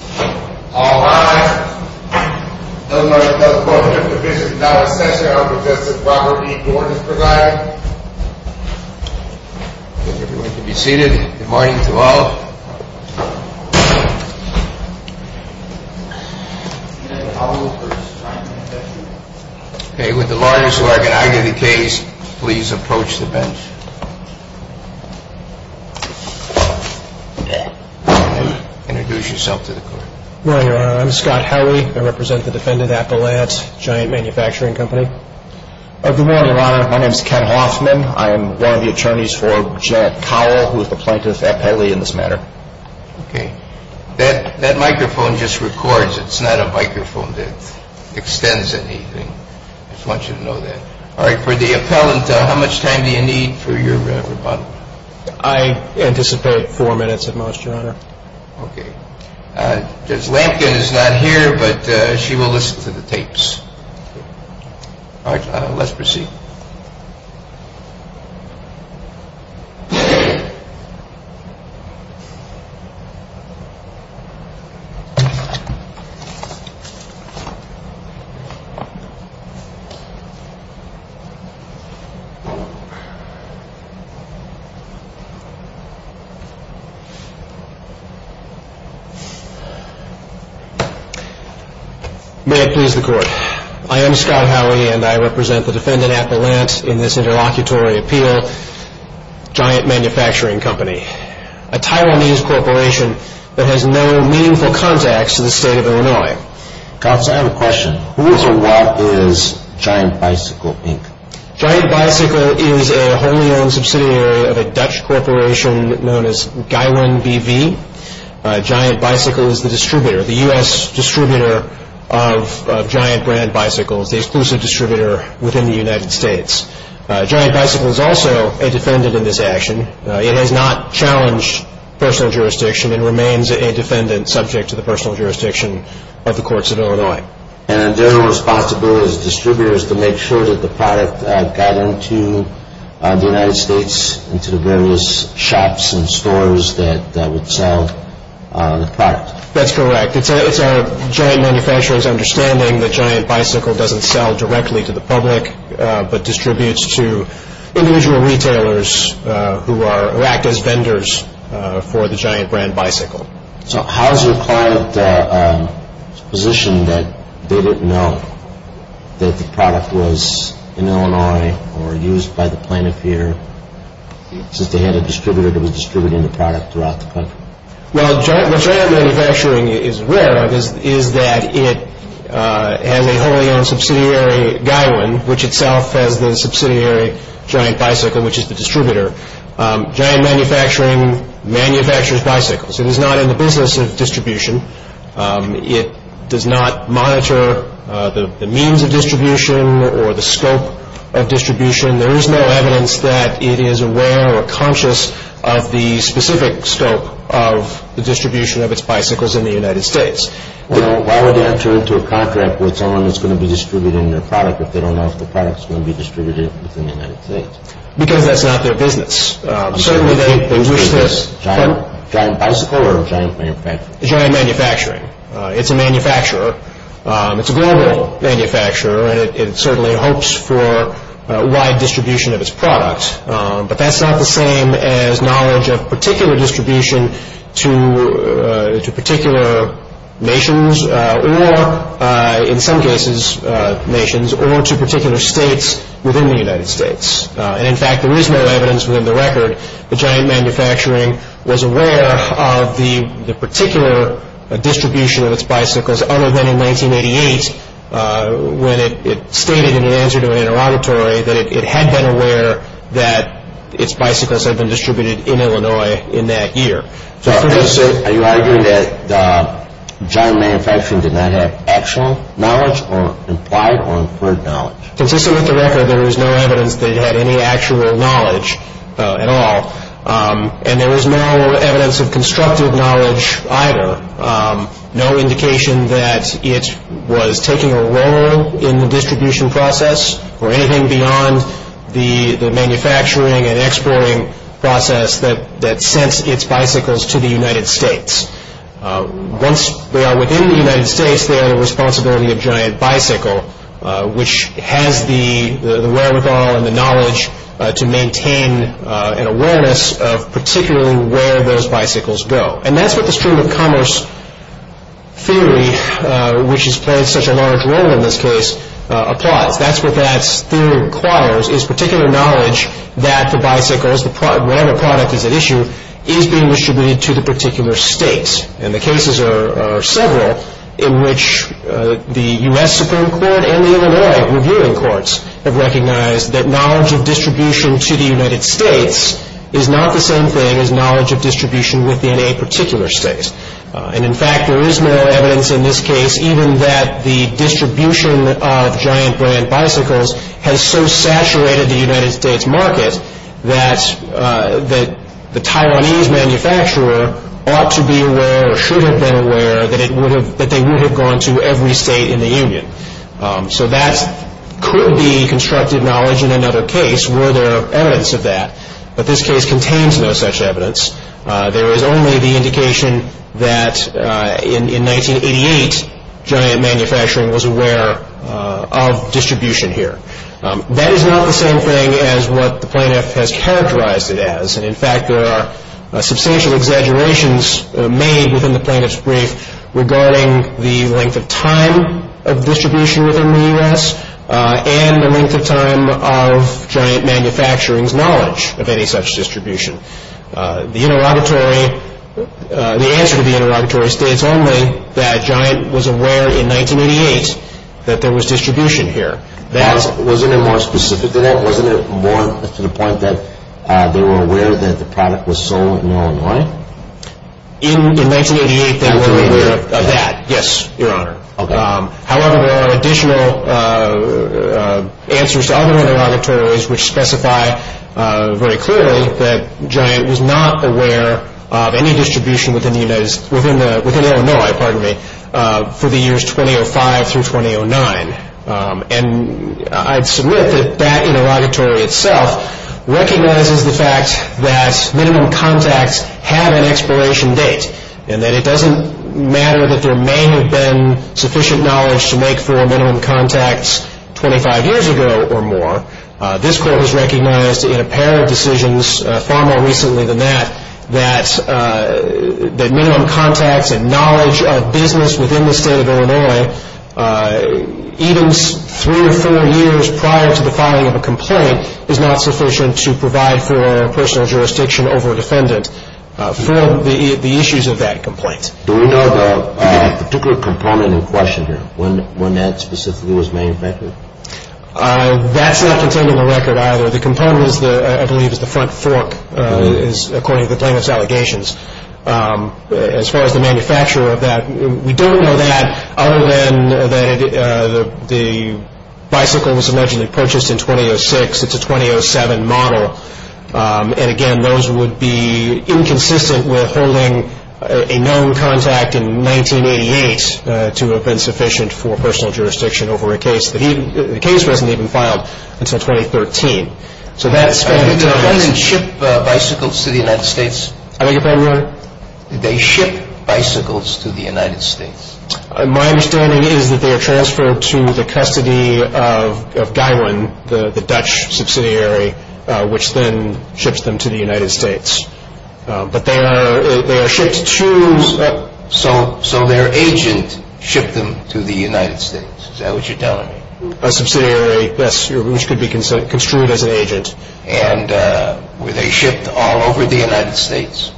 All rise. No motion, no question. The business is now in session. I will present to the proper meeting the ordinance provided. I would like everyone to be seated. Good morning to all. Okay, would the lawyers who are going to argue the case please approach the bench. Introduce yourself to the court. Good morning, Your Honor. I'm Scott Howley. I represent the defendant Appellant, Giant Manufacturing Co. Good morning, Your Honor. My name is Ken Hoffman. I am one of the attorneys for Jared Kowal, who is the plaintiff appellee in this matter. Okay. That microphone just records. I just want you to know that. All right. For the appellant, how much time do you need for your rebuttal? I anticipate four minutes at most, Your Honor. Okay. Judge Lampkin is not here, but she will listen to the tapes. All right. Let's proceed. Hold on. May it please the court. I am Scott Howley, and I represent the defendant Appellant in this interlocutory appeal, Giant Manufacturing Co. A Taiwanese corporation that has no meaningful contacts to the state of Illinois. Cops, I have a question. Who is or what is Giant Bicycle, Inc.? Giant Bicycle is a wholly-owned subsidiary of a Dutch corporation known as Gaiwan BV. Giant Bicycle is the distributor, the U.S. distributor of Giant brand bicycles, the exclusive distributor within the United States. Giant Bicycle is also a defendant in this action. It has not challenged personal jurisdiction and remains a defendant subject to the personal jurisdiction of the courts of Illinois. And their responsibility as distributors is to make sure that the product got into the United States, into the various shops and stores that would sell the product. That's correct. It's a giant manufacturer's understanding that Giant Bicycle doesn't sell directly to the public but distributes to individual retailers who act as vendors for the Giant brand bicycle. So how is your client's position that they didn't know that the product was in Illinois or used by the plaintiff here since they had a distributor that was distributing the product throughout the country? Well, what Giant Manufacturing is aware of is that it has a wholly-owned subsidiary, Gaiwan, which itself has the subsidiary Giant Bicycle, which is the distributor. Giant Manufacturing manufactures bicycles. It is not in the business of distribution. It does not monitor the means of distribution or the scope of distribution. There is no evidence that it is aware or conscious of the specific scope of the distribution of its bicycles in the United States. Well, why would they enter into a contract with someone that's going to be distributing their product if they don't know if the product is going to be distributed within the United States? Because that's not their business. Certainly they wish to... Giant Bicycle or Giant Manufacturing? Giant Manufacturing. It's a manufacturer. It's a global manufacturer, and it certainly hopes for wide distribution of its products. But that's not the same as knowledge of particular distribution to particular nations or, in some cases, nations or to particular states within the United States. And, in fact, there is no evidence within the record that Giant Manufacturing was aware of the particular distribution of its bicycles other than in 1988 when it stated in an answer to an interrogatory that it had been aware that its bicycles had been distributed in Illinois in that year. So are you arguing that Giant Manufacturing did not have actual knowledge or implied or inferred knowledge? Consisting with the record, there is no evidence that it had any actual knowledge at all, and there is no evidence of constructive knowledge either, no indication that it was taking a role in the distribution process or anything beyond the manufacturing and exploring process that sent its bicycles to the United States. Once they are within the United States, they are the responsibility of Giant Bicycle, which has the wherewithal and the knowledge to maintain an awareness of particularly where those bicycles go. And that's what the stream of commerce theory, which has played such a large role in this case, applies. That's what that theory requires is particular knowledge that the bicycles, whatever product is at issue, is being distributed to the particular states. And the cases are several in which the U.S. Supreme Court and the Illinois Reviewing Courts have recognized that knowledge of distribution to the United States is not the same thing as knowledge of distribution within a particular state. And in fact, there is more evidence in this case, even that the distribution of Giant Brand Bicycles has so saturated the United States market that the Taiwanese manufacturer ought to be aware or should have been aware that they would have gone to every state in the union. So that could be constructive knowledge in another case were there evidence of that. But this case contains no such evidence. There is only the indication that in 1988, Giant Manufacturing was aware of distribution here. That is not the same thing as what the plaintiff has characterized it as. And in fact, there are substantial exaggerations made within the plaintiff's brief regarding the length of time of distribution within the U.S. and the length of time of Giant Manufacturing's knowledge of any such distribution. The interrogatory, the answer to the interrogatory states only that Giant was aware in 1988 that there was distribution here. Now, wasn't it more specific than that? Wasn't it more to the point that they were aware that the product was sold in Illinois? In 1988, they were aware of that, yes, Your Honor. However, there are additional answers to other interrogatories which specify very clearly that Giant was not aware of any distribution within Illinois for the years 2005 through 2009. And I'd submit that that interrogatory itself recognizes the fact that minimum contacts have an expiration date and that it doesn't matter that there may have been sufficient knowledge to make four minimum contacts 25 years ago or more. This Court has recognized in a pair of decisions far more recently than that that minimum contacts and knowledge of business within the state of Illinois, even three or four years prior to the filing of a complaint, is not sufficient to provide for personal jurisdiction over a defendant for the issues of that complaint. Do we know the particular component in question here? When that specifically was manufactured? That's not contained in the record either. The component, I believe, is the front fork, according to the plaintiff's allegations. As far as the manufacturer of that, we don't know that other than the bicycle was allegedly purchased in 2006. It's a 2007 model. And again, those would be inconsistent with holding a known contact in 1988 to have been sufficient for personal jurisdiction over a case. The case wasn't even filed until 2013. So that's been the case. Did the defendant ship bicycles to the United States? I beg your pardon, Your Honor? Did they ship bicycles to the United States? My understanding is that they are transferred to the custody of Guywin, the Dutch subsidiary, which then ships them to the United States. But they are shipped to... So their agent shipped them to the United States. Is that what you're telling me? A subsidiary, yes, which could be construed as an agent. And were they shipped all over the United States?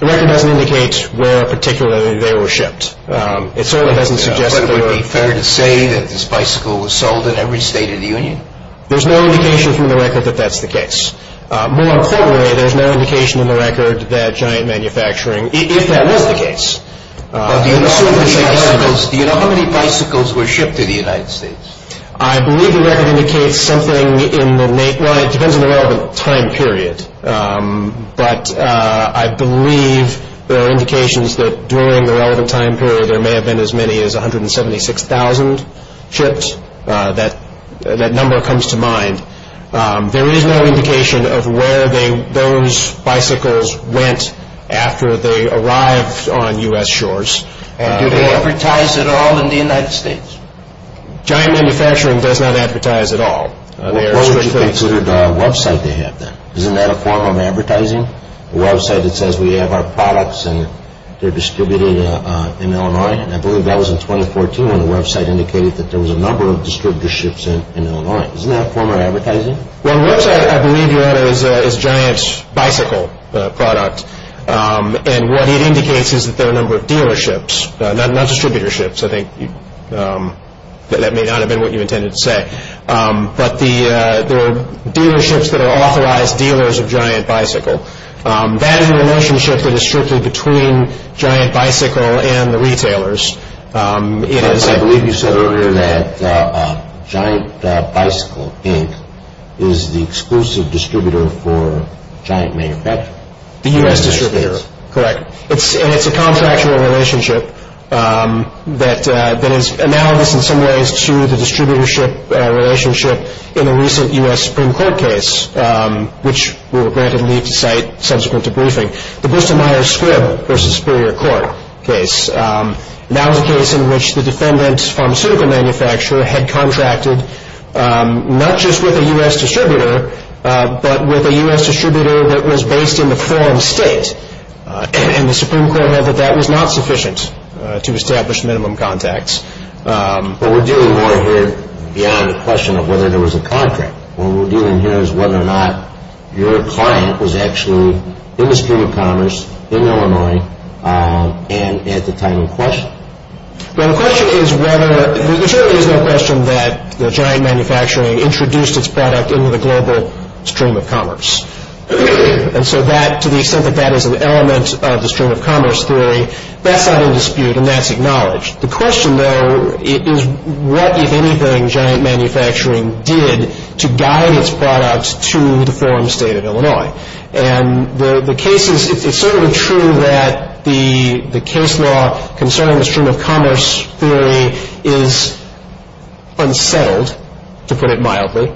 The record doesn't indicate where particularly they were shipped. It certainly doesn't suggest that there were... But it would be fair to say that this bicycle was sold in every state of the Union? There's no indication from the record that that's the case. More importantly, there's no indication in the record that Giant Manufacturing... If that was the case. Do you know how many bicycles were shipped to the United States? I believe the record indicates something in the... Well, it depends on the relevant time period. But I believe there are indications that during the relevant time period there may have been as many as 176,000 shipped. That number comes to mind. There is no indication of where those bicycles went after they arrived on U.S. shores. Do they advertise at all in the United States? Giant Manufacturing does not advertise at all. What would you consider the website they have then? Isn't that a form of advertising? A website that says we have our products and they're distributed in Illinois? And I believe that was in 2014 when the website indicated that there was a number of distributor ships in Illinois. Isn't that a form of advertising? Well, the website I believe you're at is Giant Bicycle product. And what it indicates is that there are a number of dealerships. Not distributor ships. I think that may not have been what you intended to say. But there are dealerships that are authorized dealers of Giant Bicycle. That is a relationship that is strictly between Giant Bicycle and the retailers. I believe you said earlier that Giant Bicycle Inc. is the exclusive distributor for Giant Manufacturing. The U.S. distributor, correct. And it's a contractual relationship that is analogous in some ways to the distributor ship relationship in the recent U.S. Supreme Court case, which we were granted leave to cite subsequent to briefing. The Bustemeyer-Squibb v. Superior Court case. That was a case in which the defendant's pharmaceutical manufacturer had contracted not just with a U.S. distributor, but with a U.S. distributor that was based in the foreign state. And the Supreme Court said that that was not sufficient to establish minimum contacts. But we're dealing more here beyond the question of whether there was a contract. What we're dealing here is whether or not your client was actually in the stream of commerce in Illinois and at the time in question. Well, the question is whether, there certainly is no question that the Giant Manufacturing introduced its product into the global stream of commerce. And so that, to the extent that that is an element of the stream of commerce theory, that's not in dispute and that's acknowledged. The question, though, is what, if anything, Giant Manufacturing did to guide its products to the foreign state of Illinois. And the cases, it's certainly true that the case law concerning the stream of commerce theory is unsettled, to put it mildly,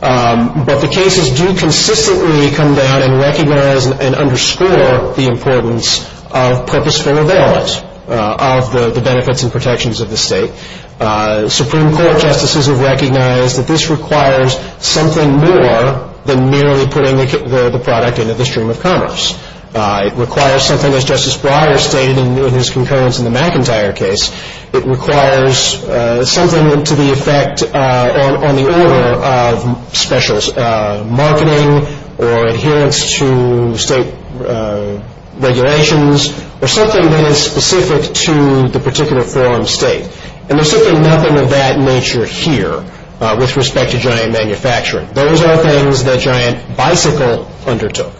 but the cases do consistently come down and recognize and underscore the importance of purposeful availment of the benefits and protections of the state. Supreme Court justices have recognized that this requires something more than merely putting the product into the stream of commerce. It requires something, as Justice Breyer stated in his concurrence in the McIntyre case, it requires something to the effect on the order of special marketing or adherence to state regulations or something that is specific to the particular foreign state. And there's certainly nothing of that nature here with respect to Giant Manufacturing. Those are things that Giant Bicycle undertook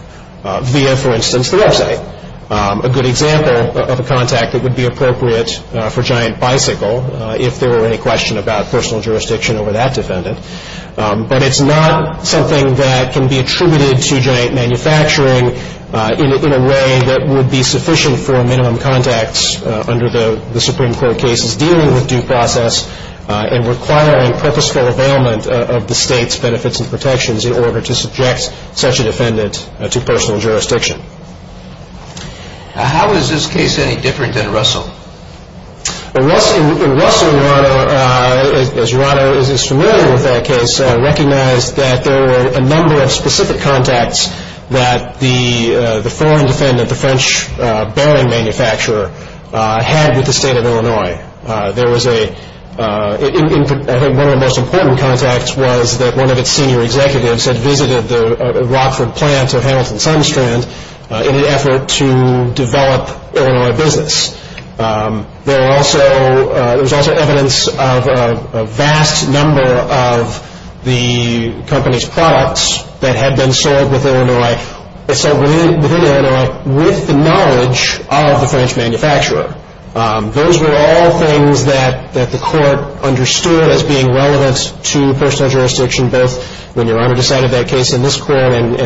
via, for instance, the website, a good example of a contact that would be appropriate for Giant Bicycle if there were any question about personal jurisdiction over that defendant. But it's not something that can be attributed to Giant Manufacturing in a way that would be sufficient for minimum contacts under the Supreme Court cases dealing with due process and requiring purposeful availment of the state's benefits and protections in order to subject such a defendant to personal jurisdiction. How is this case any different than Russell? Russell, as your Honor is familiar with that case, recognized that there were a number of specific contacts that the foreign defendant, the French bearing manufacturer, had with the state of Illinois. I think one of the most important contacts was that one of its senior executives had visited the Rockford plant of Hamilton Sunstrand in an effort to develop Illinois business. There was also evidence of a vast number of the company's products that had been sold within Illinois with the knowledge of the French manufacturer. Those were all things that the court understood as being relevant to personal jurisdiction, both when your Honor decided that case in this court and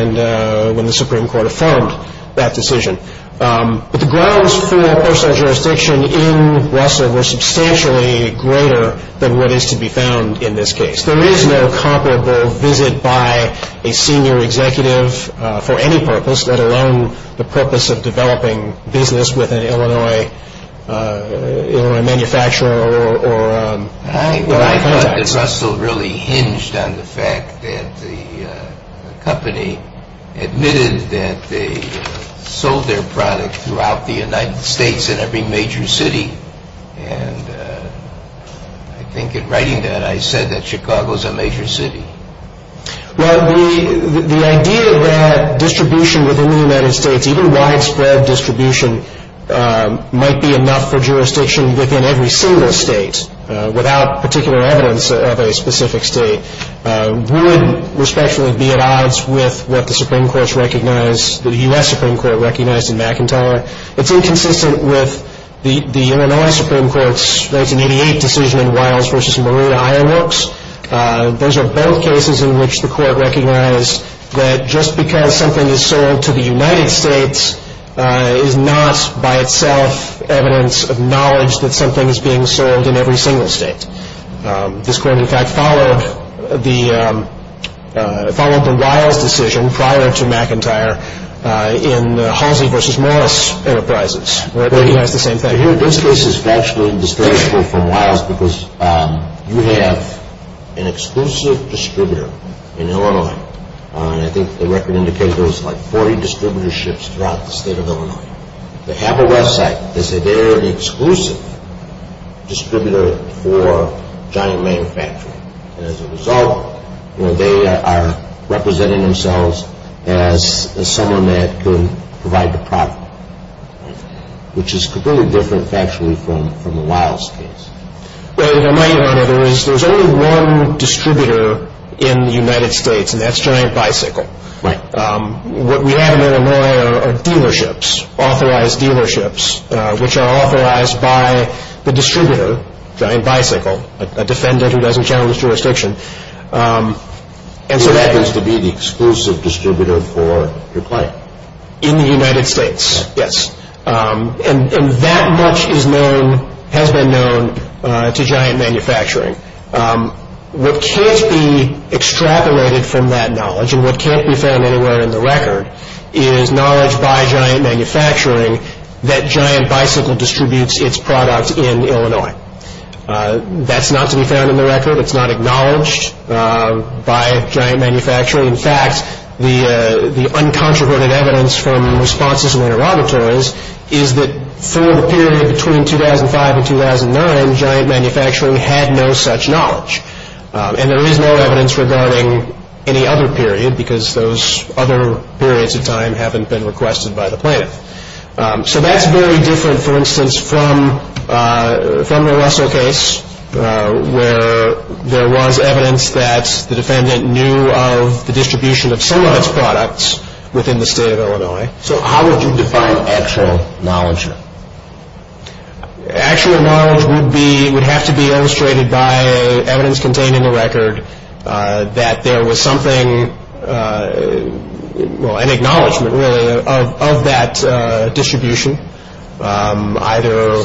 when the Supreme Court affirmed that decision. But the grounds for personal jurisdiction in Russell were substantially greater than what is to be found in this case. There is no comparable visit by a senior executive for any purpose, let alone the purpose of developing business with an Illinois manufacturer or contacts. I thought that Russell really hinged on the fact that the company admitted that they sold their product throughout the United States in every major city. And I think in writing that, I said that Chicago is a major city. Well, the idea that distribution within the United States, even widespread distribution might be enough for jurisdiction within every single state without particular evidence of a specific state, would respectfully be at odds with what the Supreme Court recognized, the U.S. Supreme Court recognized in McIntyre. It's inconsistent with the Illinois Supreme Court's 1988 decision in Wiles v. Maria Iarox. Those are both cases in which the court recognized that just because something is sold to the United States is not by itself evidence of knowledge that something is being sold in every single state. This court, in fact, followed the Wiles decision prior to McIntyre in Halsey v. Morris Enterprises, where it recognized the same thing. Here, this case is actually distasteful from Wiles because you have an exclusive distributor in Illinois. And I think the record indicated there was like 40 distributor ships throughout the state of Illinois. They have a website. They say they're the exclusive distributor for Giant Manufacturing. And as a result, they are representing themselves as someone that could provide the product, which is completely different, factually, from the Wiles case. Well, you know, my idea on it is there's only one distributor in the United States, and that's Giant Bicycle. Right. What we have in Illinois are dealerships, authorized dealerships, which are authorized by the distributor, Giant Bicycle, a defendant who doesn't channel his jurisdiction. Who happens to be the exclusive distributor for your client? In the United States, yes. And that much is known, has been known, to Giant Manufacturing. What can't be extrapolated from that knowledge and what can't be found anywhere in the record is knowledge by Giant Manufacturing that Giant Bicycle distributes its products in Illinois. That's not to be found in the record. It's not acknowledged by Giant Manufacturing. In fact, the uncontroverted evidence from responses in the interrogatories is that for the period between 2005 and 2009, Giant Manufacturing had no such knowledge. And there is no evidence regarding any other period because those other periods of time haven't been requested by the plaintiff. So that's very different, for instance, from the Russell case, where there was evidence that the defendant knew of the distribution of some of its products within the state of Illinois. So how would you define actual knowledge? Actual knowledge would have to be illustrated by evidence contained in the record that there was something, well, an acknowledgment, really, of that distribution, either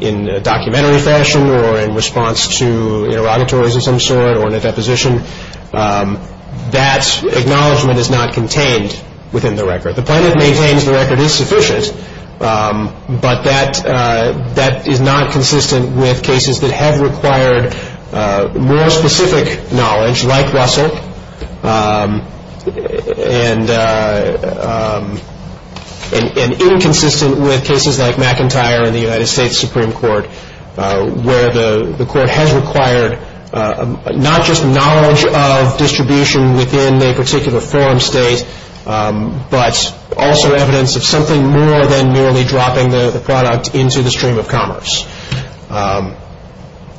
in a documentary fashion or in response to interrogatories of some sort or in a deposition. That acknowledgment is not contained within the record. The plaintiff maintains the record is sufficient, but that is not consistent with cases that have required more specific knowledge like Russell and inconsistent with cases like McIntyre in the United States Supreme Court, where the court has required not just knowledge of distribution within a particular forum state, but also evidence of something more than merely dropping the product into the stream of commerce.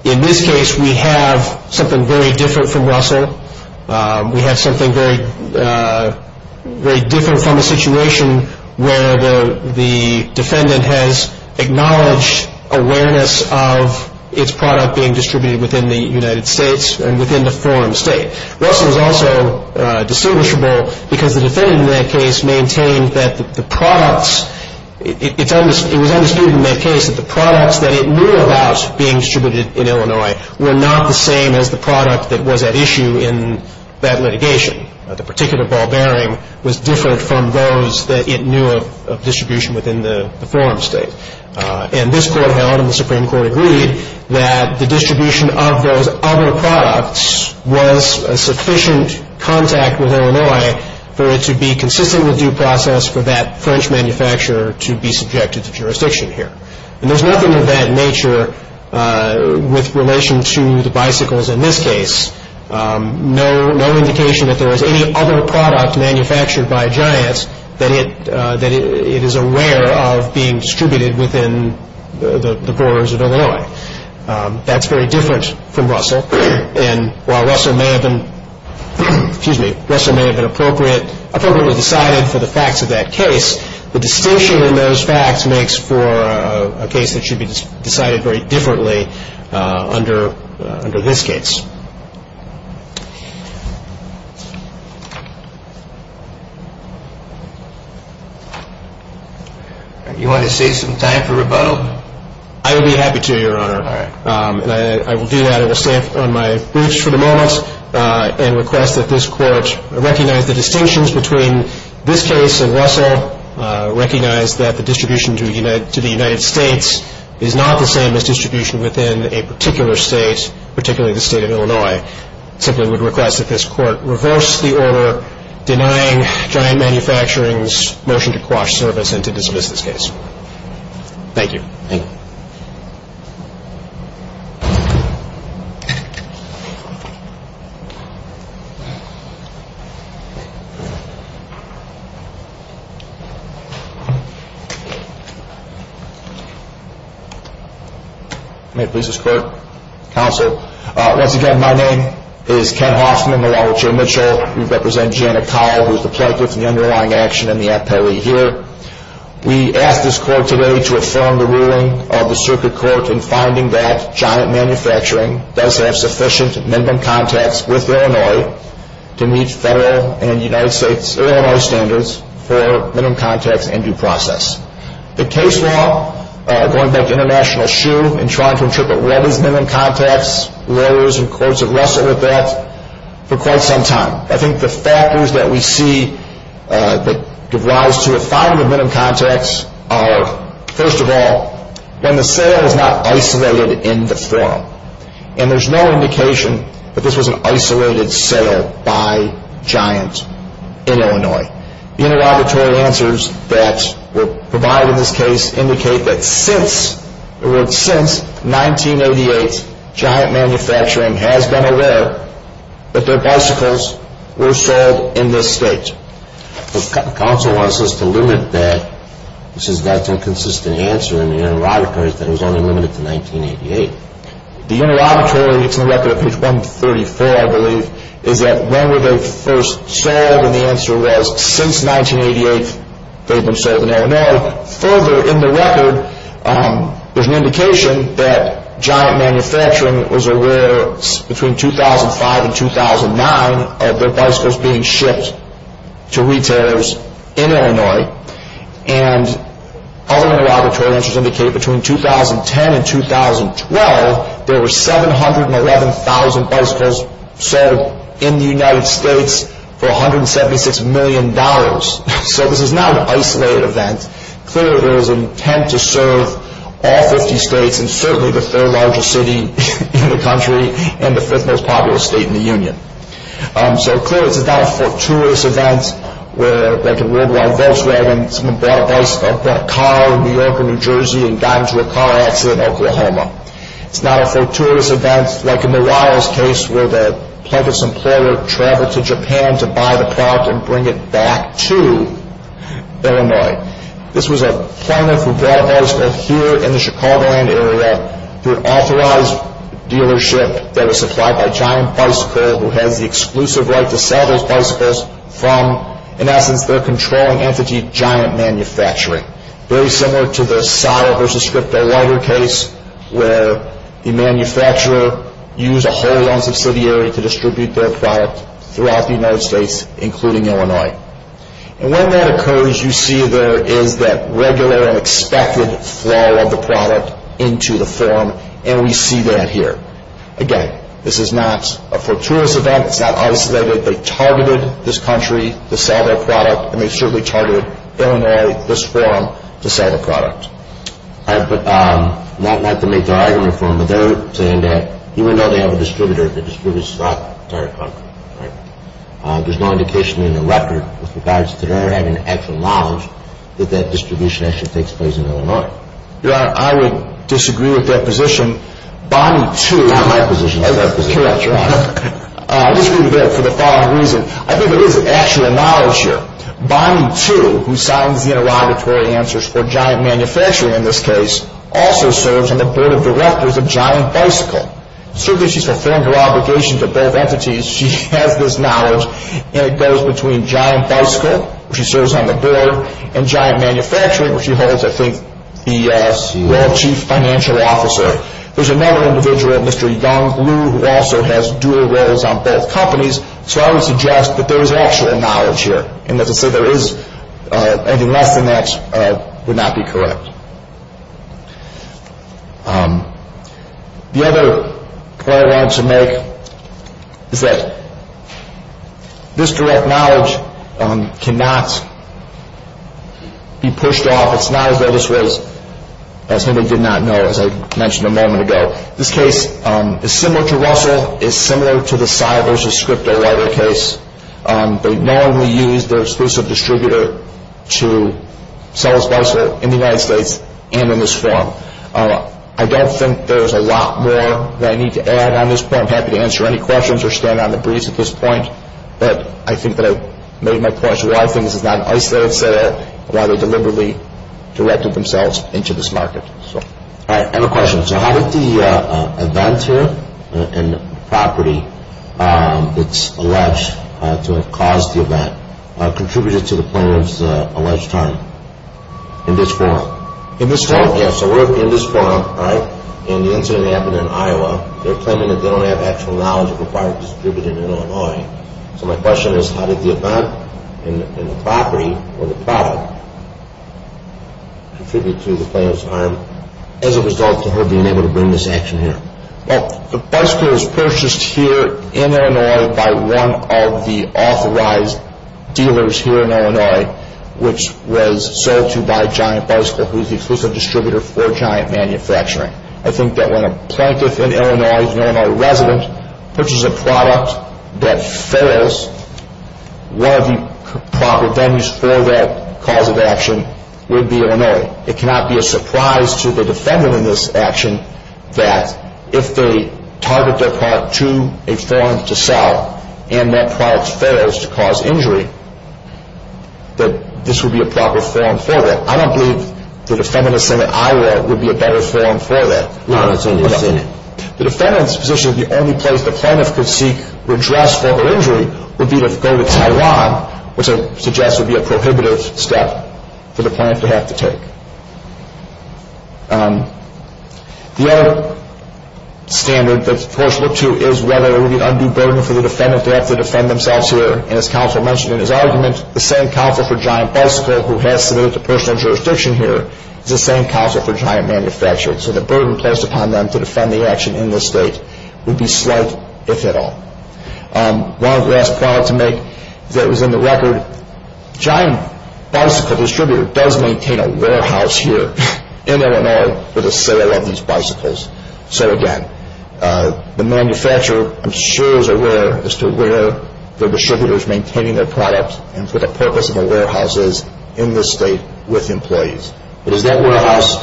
In this case, we have something very different from Russell. We have something very different from a situation where the defendant has acknowledged awareness of its product being distributed within the United States and within the forum state. Russell is also distinguishable because the defendant in that case maintained that the products, it was understood in that case that the products that it knew about being distributed in Illinois were not the same as the product that was at issue in that litigation. The particular ball bearing was different from those that it knew of distribution within the forum state. And this court held, and the Supreme Court agreed, that the distribution of those other products was sufficient contact with Illinois for it to be consistent with due process for that French manufacturer to be subjected to jurisdiction here. And there's nothing of that nature with relation to the bicycles in this case. No indication that there was any other product manufactured by Giants that it is aware of being distributed within the boroughs of Illinois. That's very different from Russell. And while Russell may have been appropriately decided for the facts of that case, the distinction in those facts makes for a case that should be decided very differently under this case. You want to save some time for rebuttal? I would be happy to, Your Honor. All right. And I will do that. I will stay on my briefs for the moment and request that this court recognize the distinctions between this case and Russell, recognize that the distribution to the United States is not the same as distribution within a particular state, particularly the state of Illinois. I simply would request that this court reverse the order denying Giant Manufacturing's motion to quash service and to dismiss this case. Thank you. Thank you. May it please this Court, Counsel. Once again, my name is Ken Hoffman, along with Jay Mitchell. We represent Janet Kyle, who is the Plaintiff in the underlying action and the appellee here. We ask this Court today to affirm the ruling of the Circuit Court in finding that Giant Manufacturing does have sufficient minimum contacts with Illinois to meet federal and United States Illinois standards for minimum contacts and due process. The case law, going back to International Shoe, in trying to interpret what is minimum contacts, lawyers and courts have wrestled with that for quite some time. I think the factors that we see that give rise to a finding of minimum contacts are, first of all, when the sale is not isolated in the forum. And there's no indication that this was an isolated sale by Giant in Illinois. The interrogatory answers that were provided in this case indicate that since 1988, Giant Manufacturing has been aware that their bicycles were sold in this state. Counsel wants us to limit that. This has got to be a consistent answer in the interrogatory that it was only limited to 1988. The interrogatory, it's in the record at page 134, I believe, is that when were they first sold, and the answer was since 1988 they've been sold in Illinois. Further in the record, there's an indication that Giant Manufacturing was aware between 2005 and 2009 of their bicycles being shipped to retailers in Illinois. And other interrogatory answers indicate between 2010 and 2012, there were 711,000 bicycles sold in the United States for $176 million. So this is not an isolated event. Clearly there was an intent to serve all 50 states, and certainly the third largest city in the country, and the fifth most populous state in the union. So clearly this is not a fortuitous event where, like in Worldwide Volkswagen, someone bought a car in New York or New Jersey and got into a car accident in Oklahoma. It's not a fortuitous event, like in the Wiles case, where the plaintiff's employer traveled to Japan to buy the product and bring it back to Illinois. This was a plaintiff who brought bicycles here in the Chicagoland area through an authorized dealership that was supplied by Giant Bicycle, who has the exclusive right to sell those bicycles from, in essence, their controlling entity, Giant Manufacturing. Very similar to the Seiler v. Scripto lighter case, where the manufacturer used a whole loan subsidiary to distribute their product throughout the United States, including Illinois. And when that occurs, you see there is that regular and expected flow of the product into the forum, and we see that here. Again, this is not a fortuitous event. It's not isolated. They targeted this country to sell their product, and they certainly targeted Illinois, this forum, to sell their product. All right, but not to make their argument for them, but they're saying that even though they have a distributor, the distributor's not targeting them. Right. There's no indication in the record with regards to their having actual knowledge that that distribution actually takes place in Illinois. Your Honor, I would disagree with that position. Bonnie, too, Not my position. Correct, Your Honor. I disagree with that for the following reason. I think there is actual knowledge here. Bonnie, too, who signs the interrogatory answers for Giant Manufacturing in this case, also serves on the board of directors of Giant Bicycle. Certainly, she's fulfilling her obligations to both entities. She has this knowledge, and it goes between Giant Bicycle, where she serves on the board, and Giant Manufacturing, where she holds, I think, the role of chief financial officer. There's another individual, Mr. Young, who also has dual roles on both companies, so I would suggest that there is actual knowledge here, and that to say there is anything less than that would not be correct. The other point I wanted to make is that this direct knowledge cannot be pushed off. It's not as though this was something they did not know, as I mentioned a moment ago. This case is similar to Russell. It's similar to the Cy versus Scriptowriter case. They normally use their exclusive distributor to sell a bicycle in the United States and in this form. I don't think there's a lot more that I need to add on this point. I'm happy to answer any questions or stand on the breeze at this point, but I think that I've made my point as to why I think this is not an isolated set-up, why they deliberately directed themselves into this market. I have a question. How did the event here and the property that's alleged to have caused the event contribute to the plaintiff's alleged harm in this form? In this form? Yes, so we're in this form, and the incident happened in Iowa. They're claiming that they don't have actual knowledge of the product distributed in Illinois, so my question is how did the event and the property or the product contribute to the plaintiff's harm as a result to her being able to bring this action here? Well, the bicycle was purchased here in Illinois by one of the authorized dealers here in Illinois, which was sold to by Giant Bicycle, who's the exclusive distributor for Giant Manufacturing. I think that when a plaintiff in Illinois is an Illinois resident, purchases a product that fails, one of the proper venues for that cause of action would be Illinois. It cannot be a surprise to the defendant in this action that if they target their product to a firm to sell and that product fails to cause injury, that this would be a proper forum for that. I don't believe that a defendant in a Senate in Iowa would be a better forum for that. No, that's only a Senate. The defendant's position is the only place the plaintiff could seek redress for her injury would be to go to Taiwan, which I suggest would be a prohibitive step for the plaintiff to have to take. The other standard that the courts look to is whether it would be an undue burden for the defendant to have to defend themselves here, and as counsel mentioned in his argument, the same counsel for Giant Bicycle, who has submitted to personal jurisdiction here, is the same counsel for Giant Manufacturing, so the burden placed upon them to defend the action in this state would be slight, if at all. One last point to make that was in the record, Giant Bicycle Distributor does maintain a warehouse here in Illinois for the sale of these bicycles. So again, the manufacturer, I'm sure, is aware as to where the distributor is maintaining their product and what the purpose of the warehouse is in this state with employees. Is that warehouse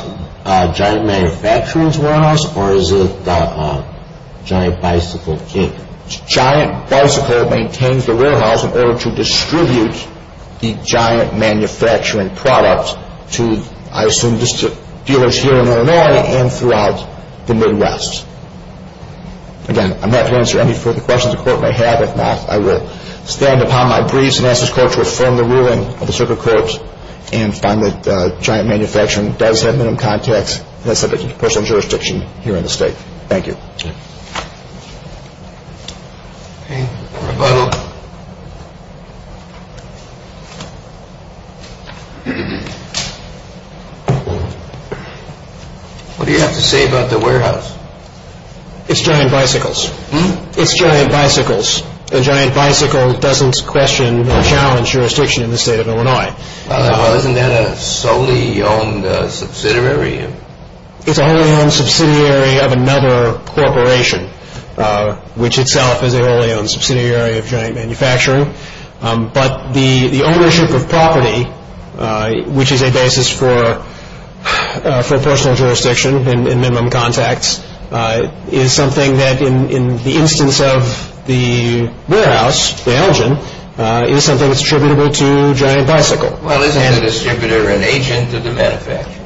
Giant Manufacturing's warehouse, or is it Giant Bicycle's? Giant Bicycle maintains the warehouse in order to distribute the Giant Manufacturing product to, I assume, dealers here in Illinois and throughout the Midwest. Again, I'm not going to answer any further questions the court may have. If not, I will stand upon my briefs and ask this court to affirm the ruling of the circuit court and find that Giant Manufacturing does have minimum contacts and has submitted to personal jurisdiction here in the state. Thank you. What do you have to say about the warehouse? It's Giant Bicycles. It's Giant Bicycles. Giant Bicycle doesn't question or challenge jurisdiction in the state of Illinois. Isn't that a solely owned subsidiary? It's a wholly owned subsidiary of another corporation, which itself is a wholly owned subsidiary of Giant Manufacturing. But the ownership of property, which is a basis for personal jurisdiction in minimum contacts, is something that in the instance of the warehouse, the Elgin, is something that's attributable to Giant Bicycle. Well, isn't the distributor an agent of the manufacturer?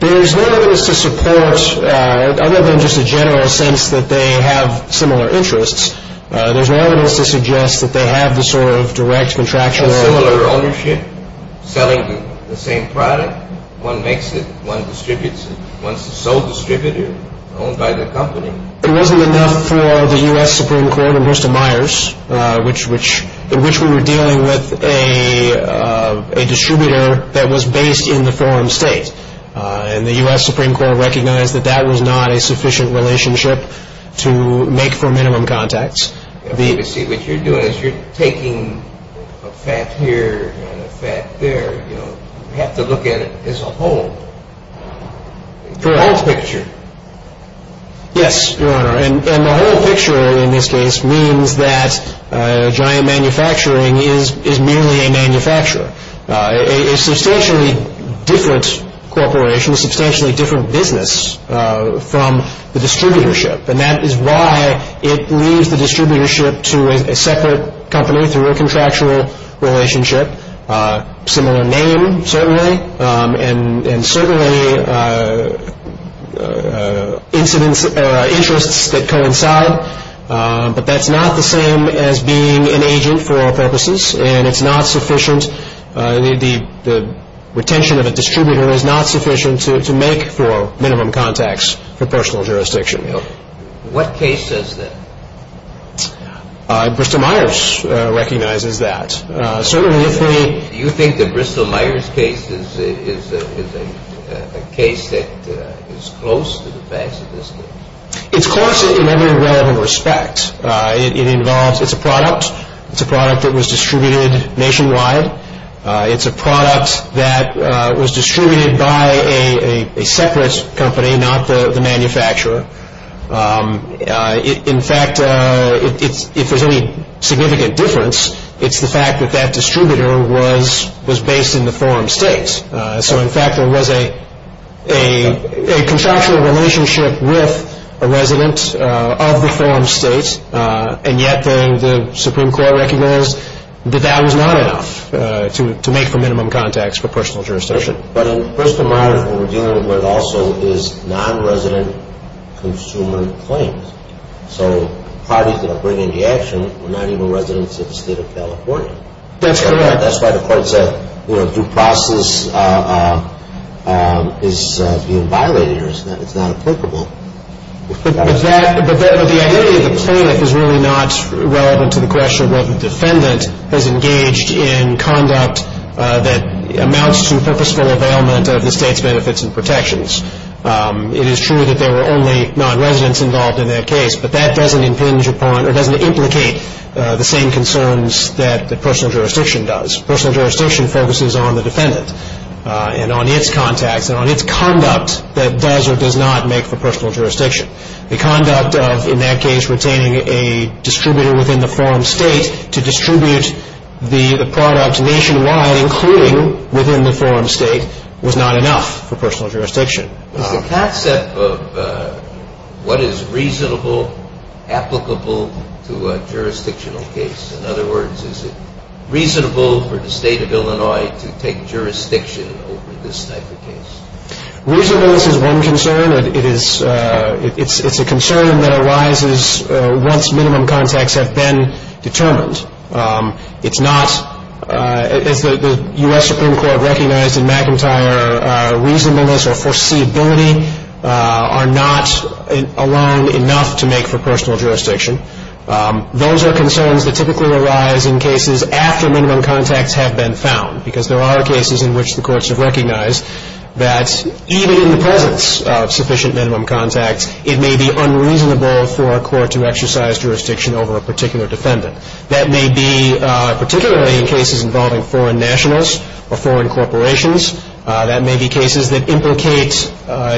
There's no evidence to support, other than just a general sense that they have similar interests, there's no evidence to suggest that they have the sort of direct contractual ownership. Selling the same product, one makes it, one distributes it. One's the sole distributor owned by the company. It wasn't enough for the U.S. Supreme Court and Hirst and Myers, in which we were dealing with a distributor that was based in the foreign state. And the U.S. Supreme Court recognized that that was not a sufficient relationship to make for minimum contacts. What you're doing is you're taking a fact here and a fact there. You have to look at it as a whole. Correct. The whole picture. Yes, Your Honor. And the whole picture, in this case, means that Giant Manufacturing is merely a manufacturer. A substantially different corporation, a substantially different business from the distributorship. And that is why it leaves the distributorship to a separate company through a contractual relationship. Similar name, certainly, and certainly interests that coincide. But that's not the same as being an agent for all purposes, and it's not sufficient. The retention of a distributor is not sufficient to make for minimum contacts for personal jurisdiction. What case says that? Bristol-Myers recognizes that. Do you think the Bristol-Myers case is a case that is close to the facts of this case? It's close in every relevant respect. It's a product. It's a product that was distributed nationwide. It's a product that was distributed by a separate company, not the manufacturer. In fact, if there's any significant difference, it's the fact that that distributor was based in the forum states. So, in fact, there was a contractual relationship with a resident of the forum states, and yet the Supreme Court recognized that that was not enough to make for minimum contacts for personal jurisdiction. But in Bristol-Myers, what we're dealing with also is nonresident consumer claims. So parties that are bringing the action were not even residents of the state of California. That's correct. That's why the court said, you know, due process is being violated or it's not applicable. But the idea of the plaintiff is really not relevant to the question of whether the defendant has engaged in conduct that amounts to purposeful availment of the state's benefits and protections. It is true that there were only nonresidents involved in that case, but that doesn't impinge upon or doesn't implicate the same concerns that the personal jurisdiction does. Personal jurisdiction focuses on the defendant and on its contacts and on its conduct that does or does not make for personal jurisdiction. The conduct of, in that case, retaining a distributor within the forum state to distribute the product nationwide, including within the forum state, was not enough for personal jurisdiction. Is the concept of what is reasonable applicable to a jurisdictional case? In other words, is it reasonable for the state of Illinois to take jurisdiction over this type of case? Reasonableness is one concern. It's a concern that arises once minimum contacts have been determined. It's not, as the U.S. Supreme Court recognized in McIntyre, reasonableness or foreseeability are not alone enough to make for personal jurisdiction. Those are concerns that typically arise in cases after minimum contacts have been found, because there are cases in which the courts have recognized that even in the presence of sufficient minimum contacts, it may be unreasonable for a court to exercise jurisdiction over a particular defendant. That may be particularly in cases involving foreign nationals or foreign corporations. That may be cases that implicate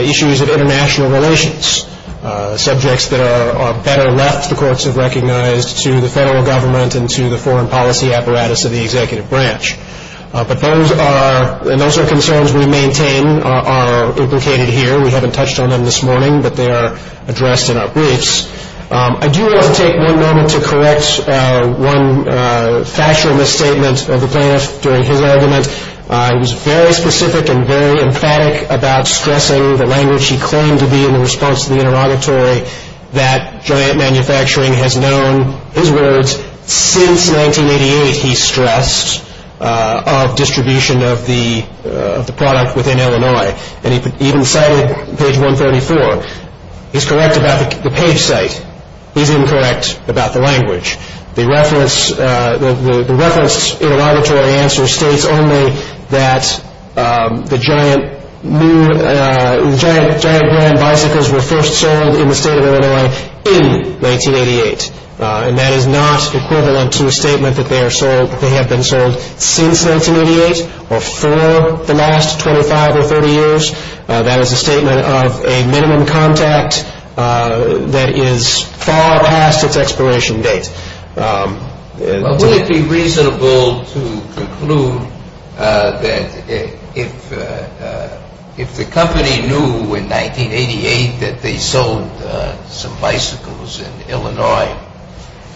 issues of international relations, subjects that are better left, the courts have recognized, to the federal government and to the foreign policy apparatus of the executive branch. But those are concerns we maintain are implicated here. We haven't touched on them this morning, but they are addressed in our briefs. I do want to take one moment to correct one factual misstatement of the plaintiff during his argument. He was very specific and very emphatic about stressing the language he claimed to be in the response to the interrogatory that giant manufacturing has known his words since 1988, he stressed, of distribution of the product within Illinois. And he even cited page 134. He's correct about the page site. He's incorrect about the language. The reference in the interrogatory answer states only that the giant brand bicycles were first sold in the state of Illinois in 1988. And that is not equivalent to a statement that they have been sold since 1988 or for the last 25 or 30 years. That is a statement of a minimum contact that is far past its expiration date. But would it be reasonable to conclude that if the company knew in 1988 that they sold some bicycles in Illinois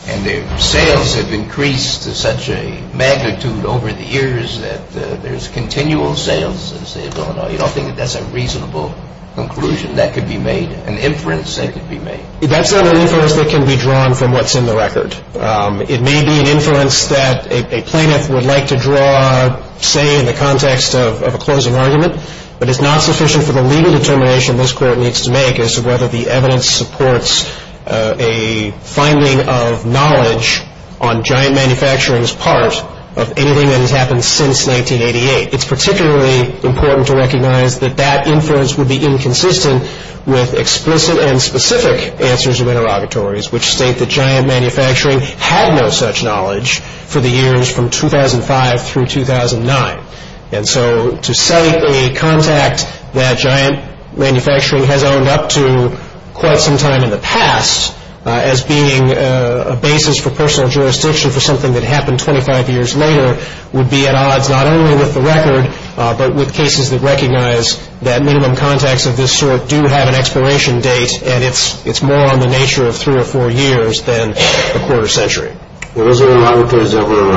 and their sales have increased to such a magnitude over the years that there's continual sales in the state of Illinois, you don't think that that's a reasonable conclusion that could be made, an inference that could be made? That's not an inference that can be drawn from what's in the record. It may be an inference that a plaintiff would like to draw, say, in the context of a closing argument, but it's not sufficient for the legal determination this Court needs to make as to whether the evidence supports a finding of knowledge on giant manufacturing's part of anything that has happened since 1988. It's particularly important to recognize that that inference would be inconsistent with explicit and specific answers of interrogatories which state that giant manufacturing had no such knowledge for the years from 2005 through 2009. And so to cite a contact that giant manufacturing has owned up to quite some time in the past as being a basis for personal jurisdiction for something that happened 25 years later would be at odds not only with the record, but with cases that recognize that minimum contacts of this sort do have an expiration date and it's more on the nature of three or four years than a quarter century. Were those interrogatories ever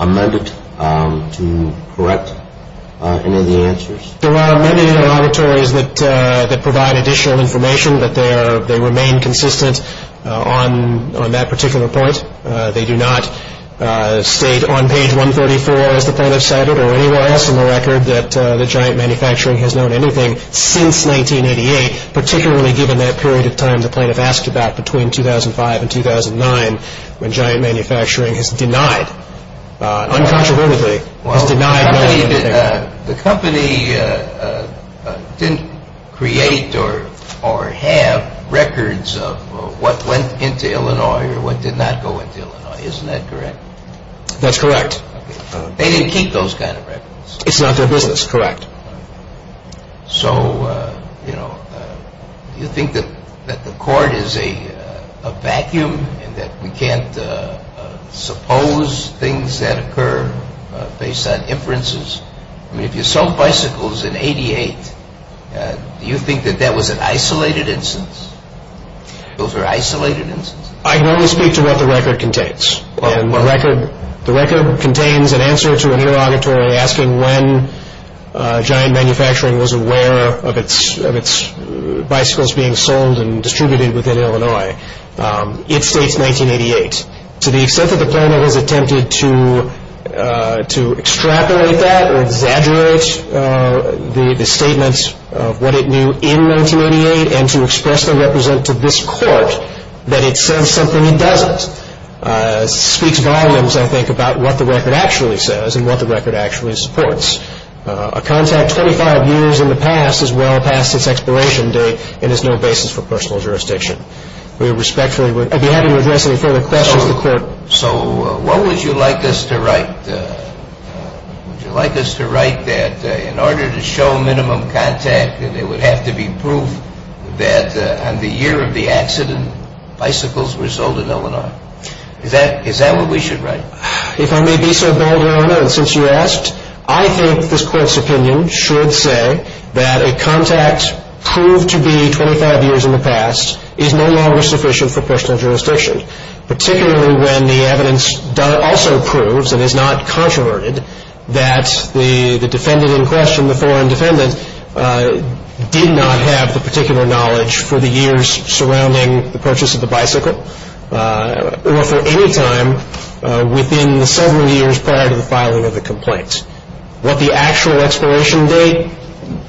amended to correct any of the answers? There are many interrogatories that provide additional information, but they remain consistent on that particular point. They do not state on page 134, as the plaintiff cited, or anywhere else in the record that giant manufacturing has known anything since 1988, particularly given that period of time the plaintiff asked about between 2005 and 2009 when giant manufacturing has denied, uncontrovertedly, has denied knowing anything. The company didn't create or have records of what went into Illinois or what did not go into Illinois. Isn't that correct? That's correct. They didn't keep those kind of records. It's not their business. Correct. So, you know, do you think that the court is a vacuum and that we can't suppose things that occur based on inferences? I mean, if you sold bicycles in 88, do you think that that was an isolated instance? Those were isolated instances? I can only speak to what the record contains. The record contains an answer to an interrogatory asking when giant manufacturing was aware of its bicycles being sold and distributed within Illinois. It states 1988. To the extent that the plaintiff has attempted to extrapolate that or exaggerate the statement of what it knew in 1988 and to express and represent to this court that it says something it doesn't, speaks volumes, I think, about what the record actually says and what the record actually supports. A contact 25 years in the past is well past its expiration date and is no basis for personal jurisdiction. We respectfully would be happy to address any further questions to the court. So what would you like us to write? Would you like us to write that in order to show minimum contact, that there would have to be proof that on the year of the accident bicycles were sold in Illinois? Is that what we should write? If I may be so bold, Your Honor, since you asked, I think this court's opinion should say that a contact proved to be 25 years in the past is no longer sufficient for personal jurisdiction, particularly when the evidence also proves and is not controverted that the defendant in question, the foreign defendant, did not have the particular knowledge for the years surrounding the purchase of the bicycle or for any time within the several years prior to the filing of the complaint. What the actual expiration date,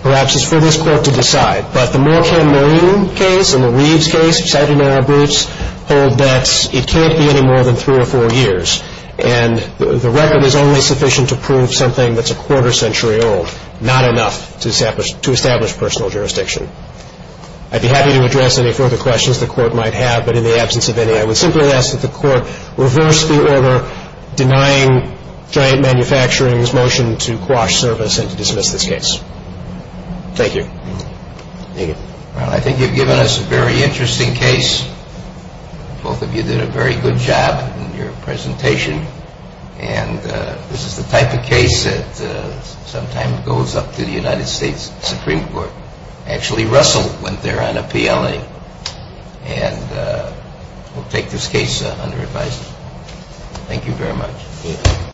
perhaps, is for this court to decide. But the Moore-Camarillo case and the Reeves case, Saginaro-Bruce, hold that it can't be any more than three or four years. And the record is only sufficient to prove something that's a quarter century old, not enough to establish personal jurisdiction. I'd be happy to address any further questions the court might have, but in the absence of any, I would simply ask that the court reverse the order denying Giant Manufacturing's motion to quash service and to dismiss this case. Thank you. Thank you. Well, I think you've given us a very interesting case. Both of you did a very good job in your presentation. And this is the type of case that sometimes goes up to the United States Supreme Court. Actually, Russell went there on a PLA. And we'll take this case under advice. Thank you very much.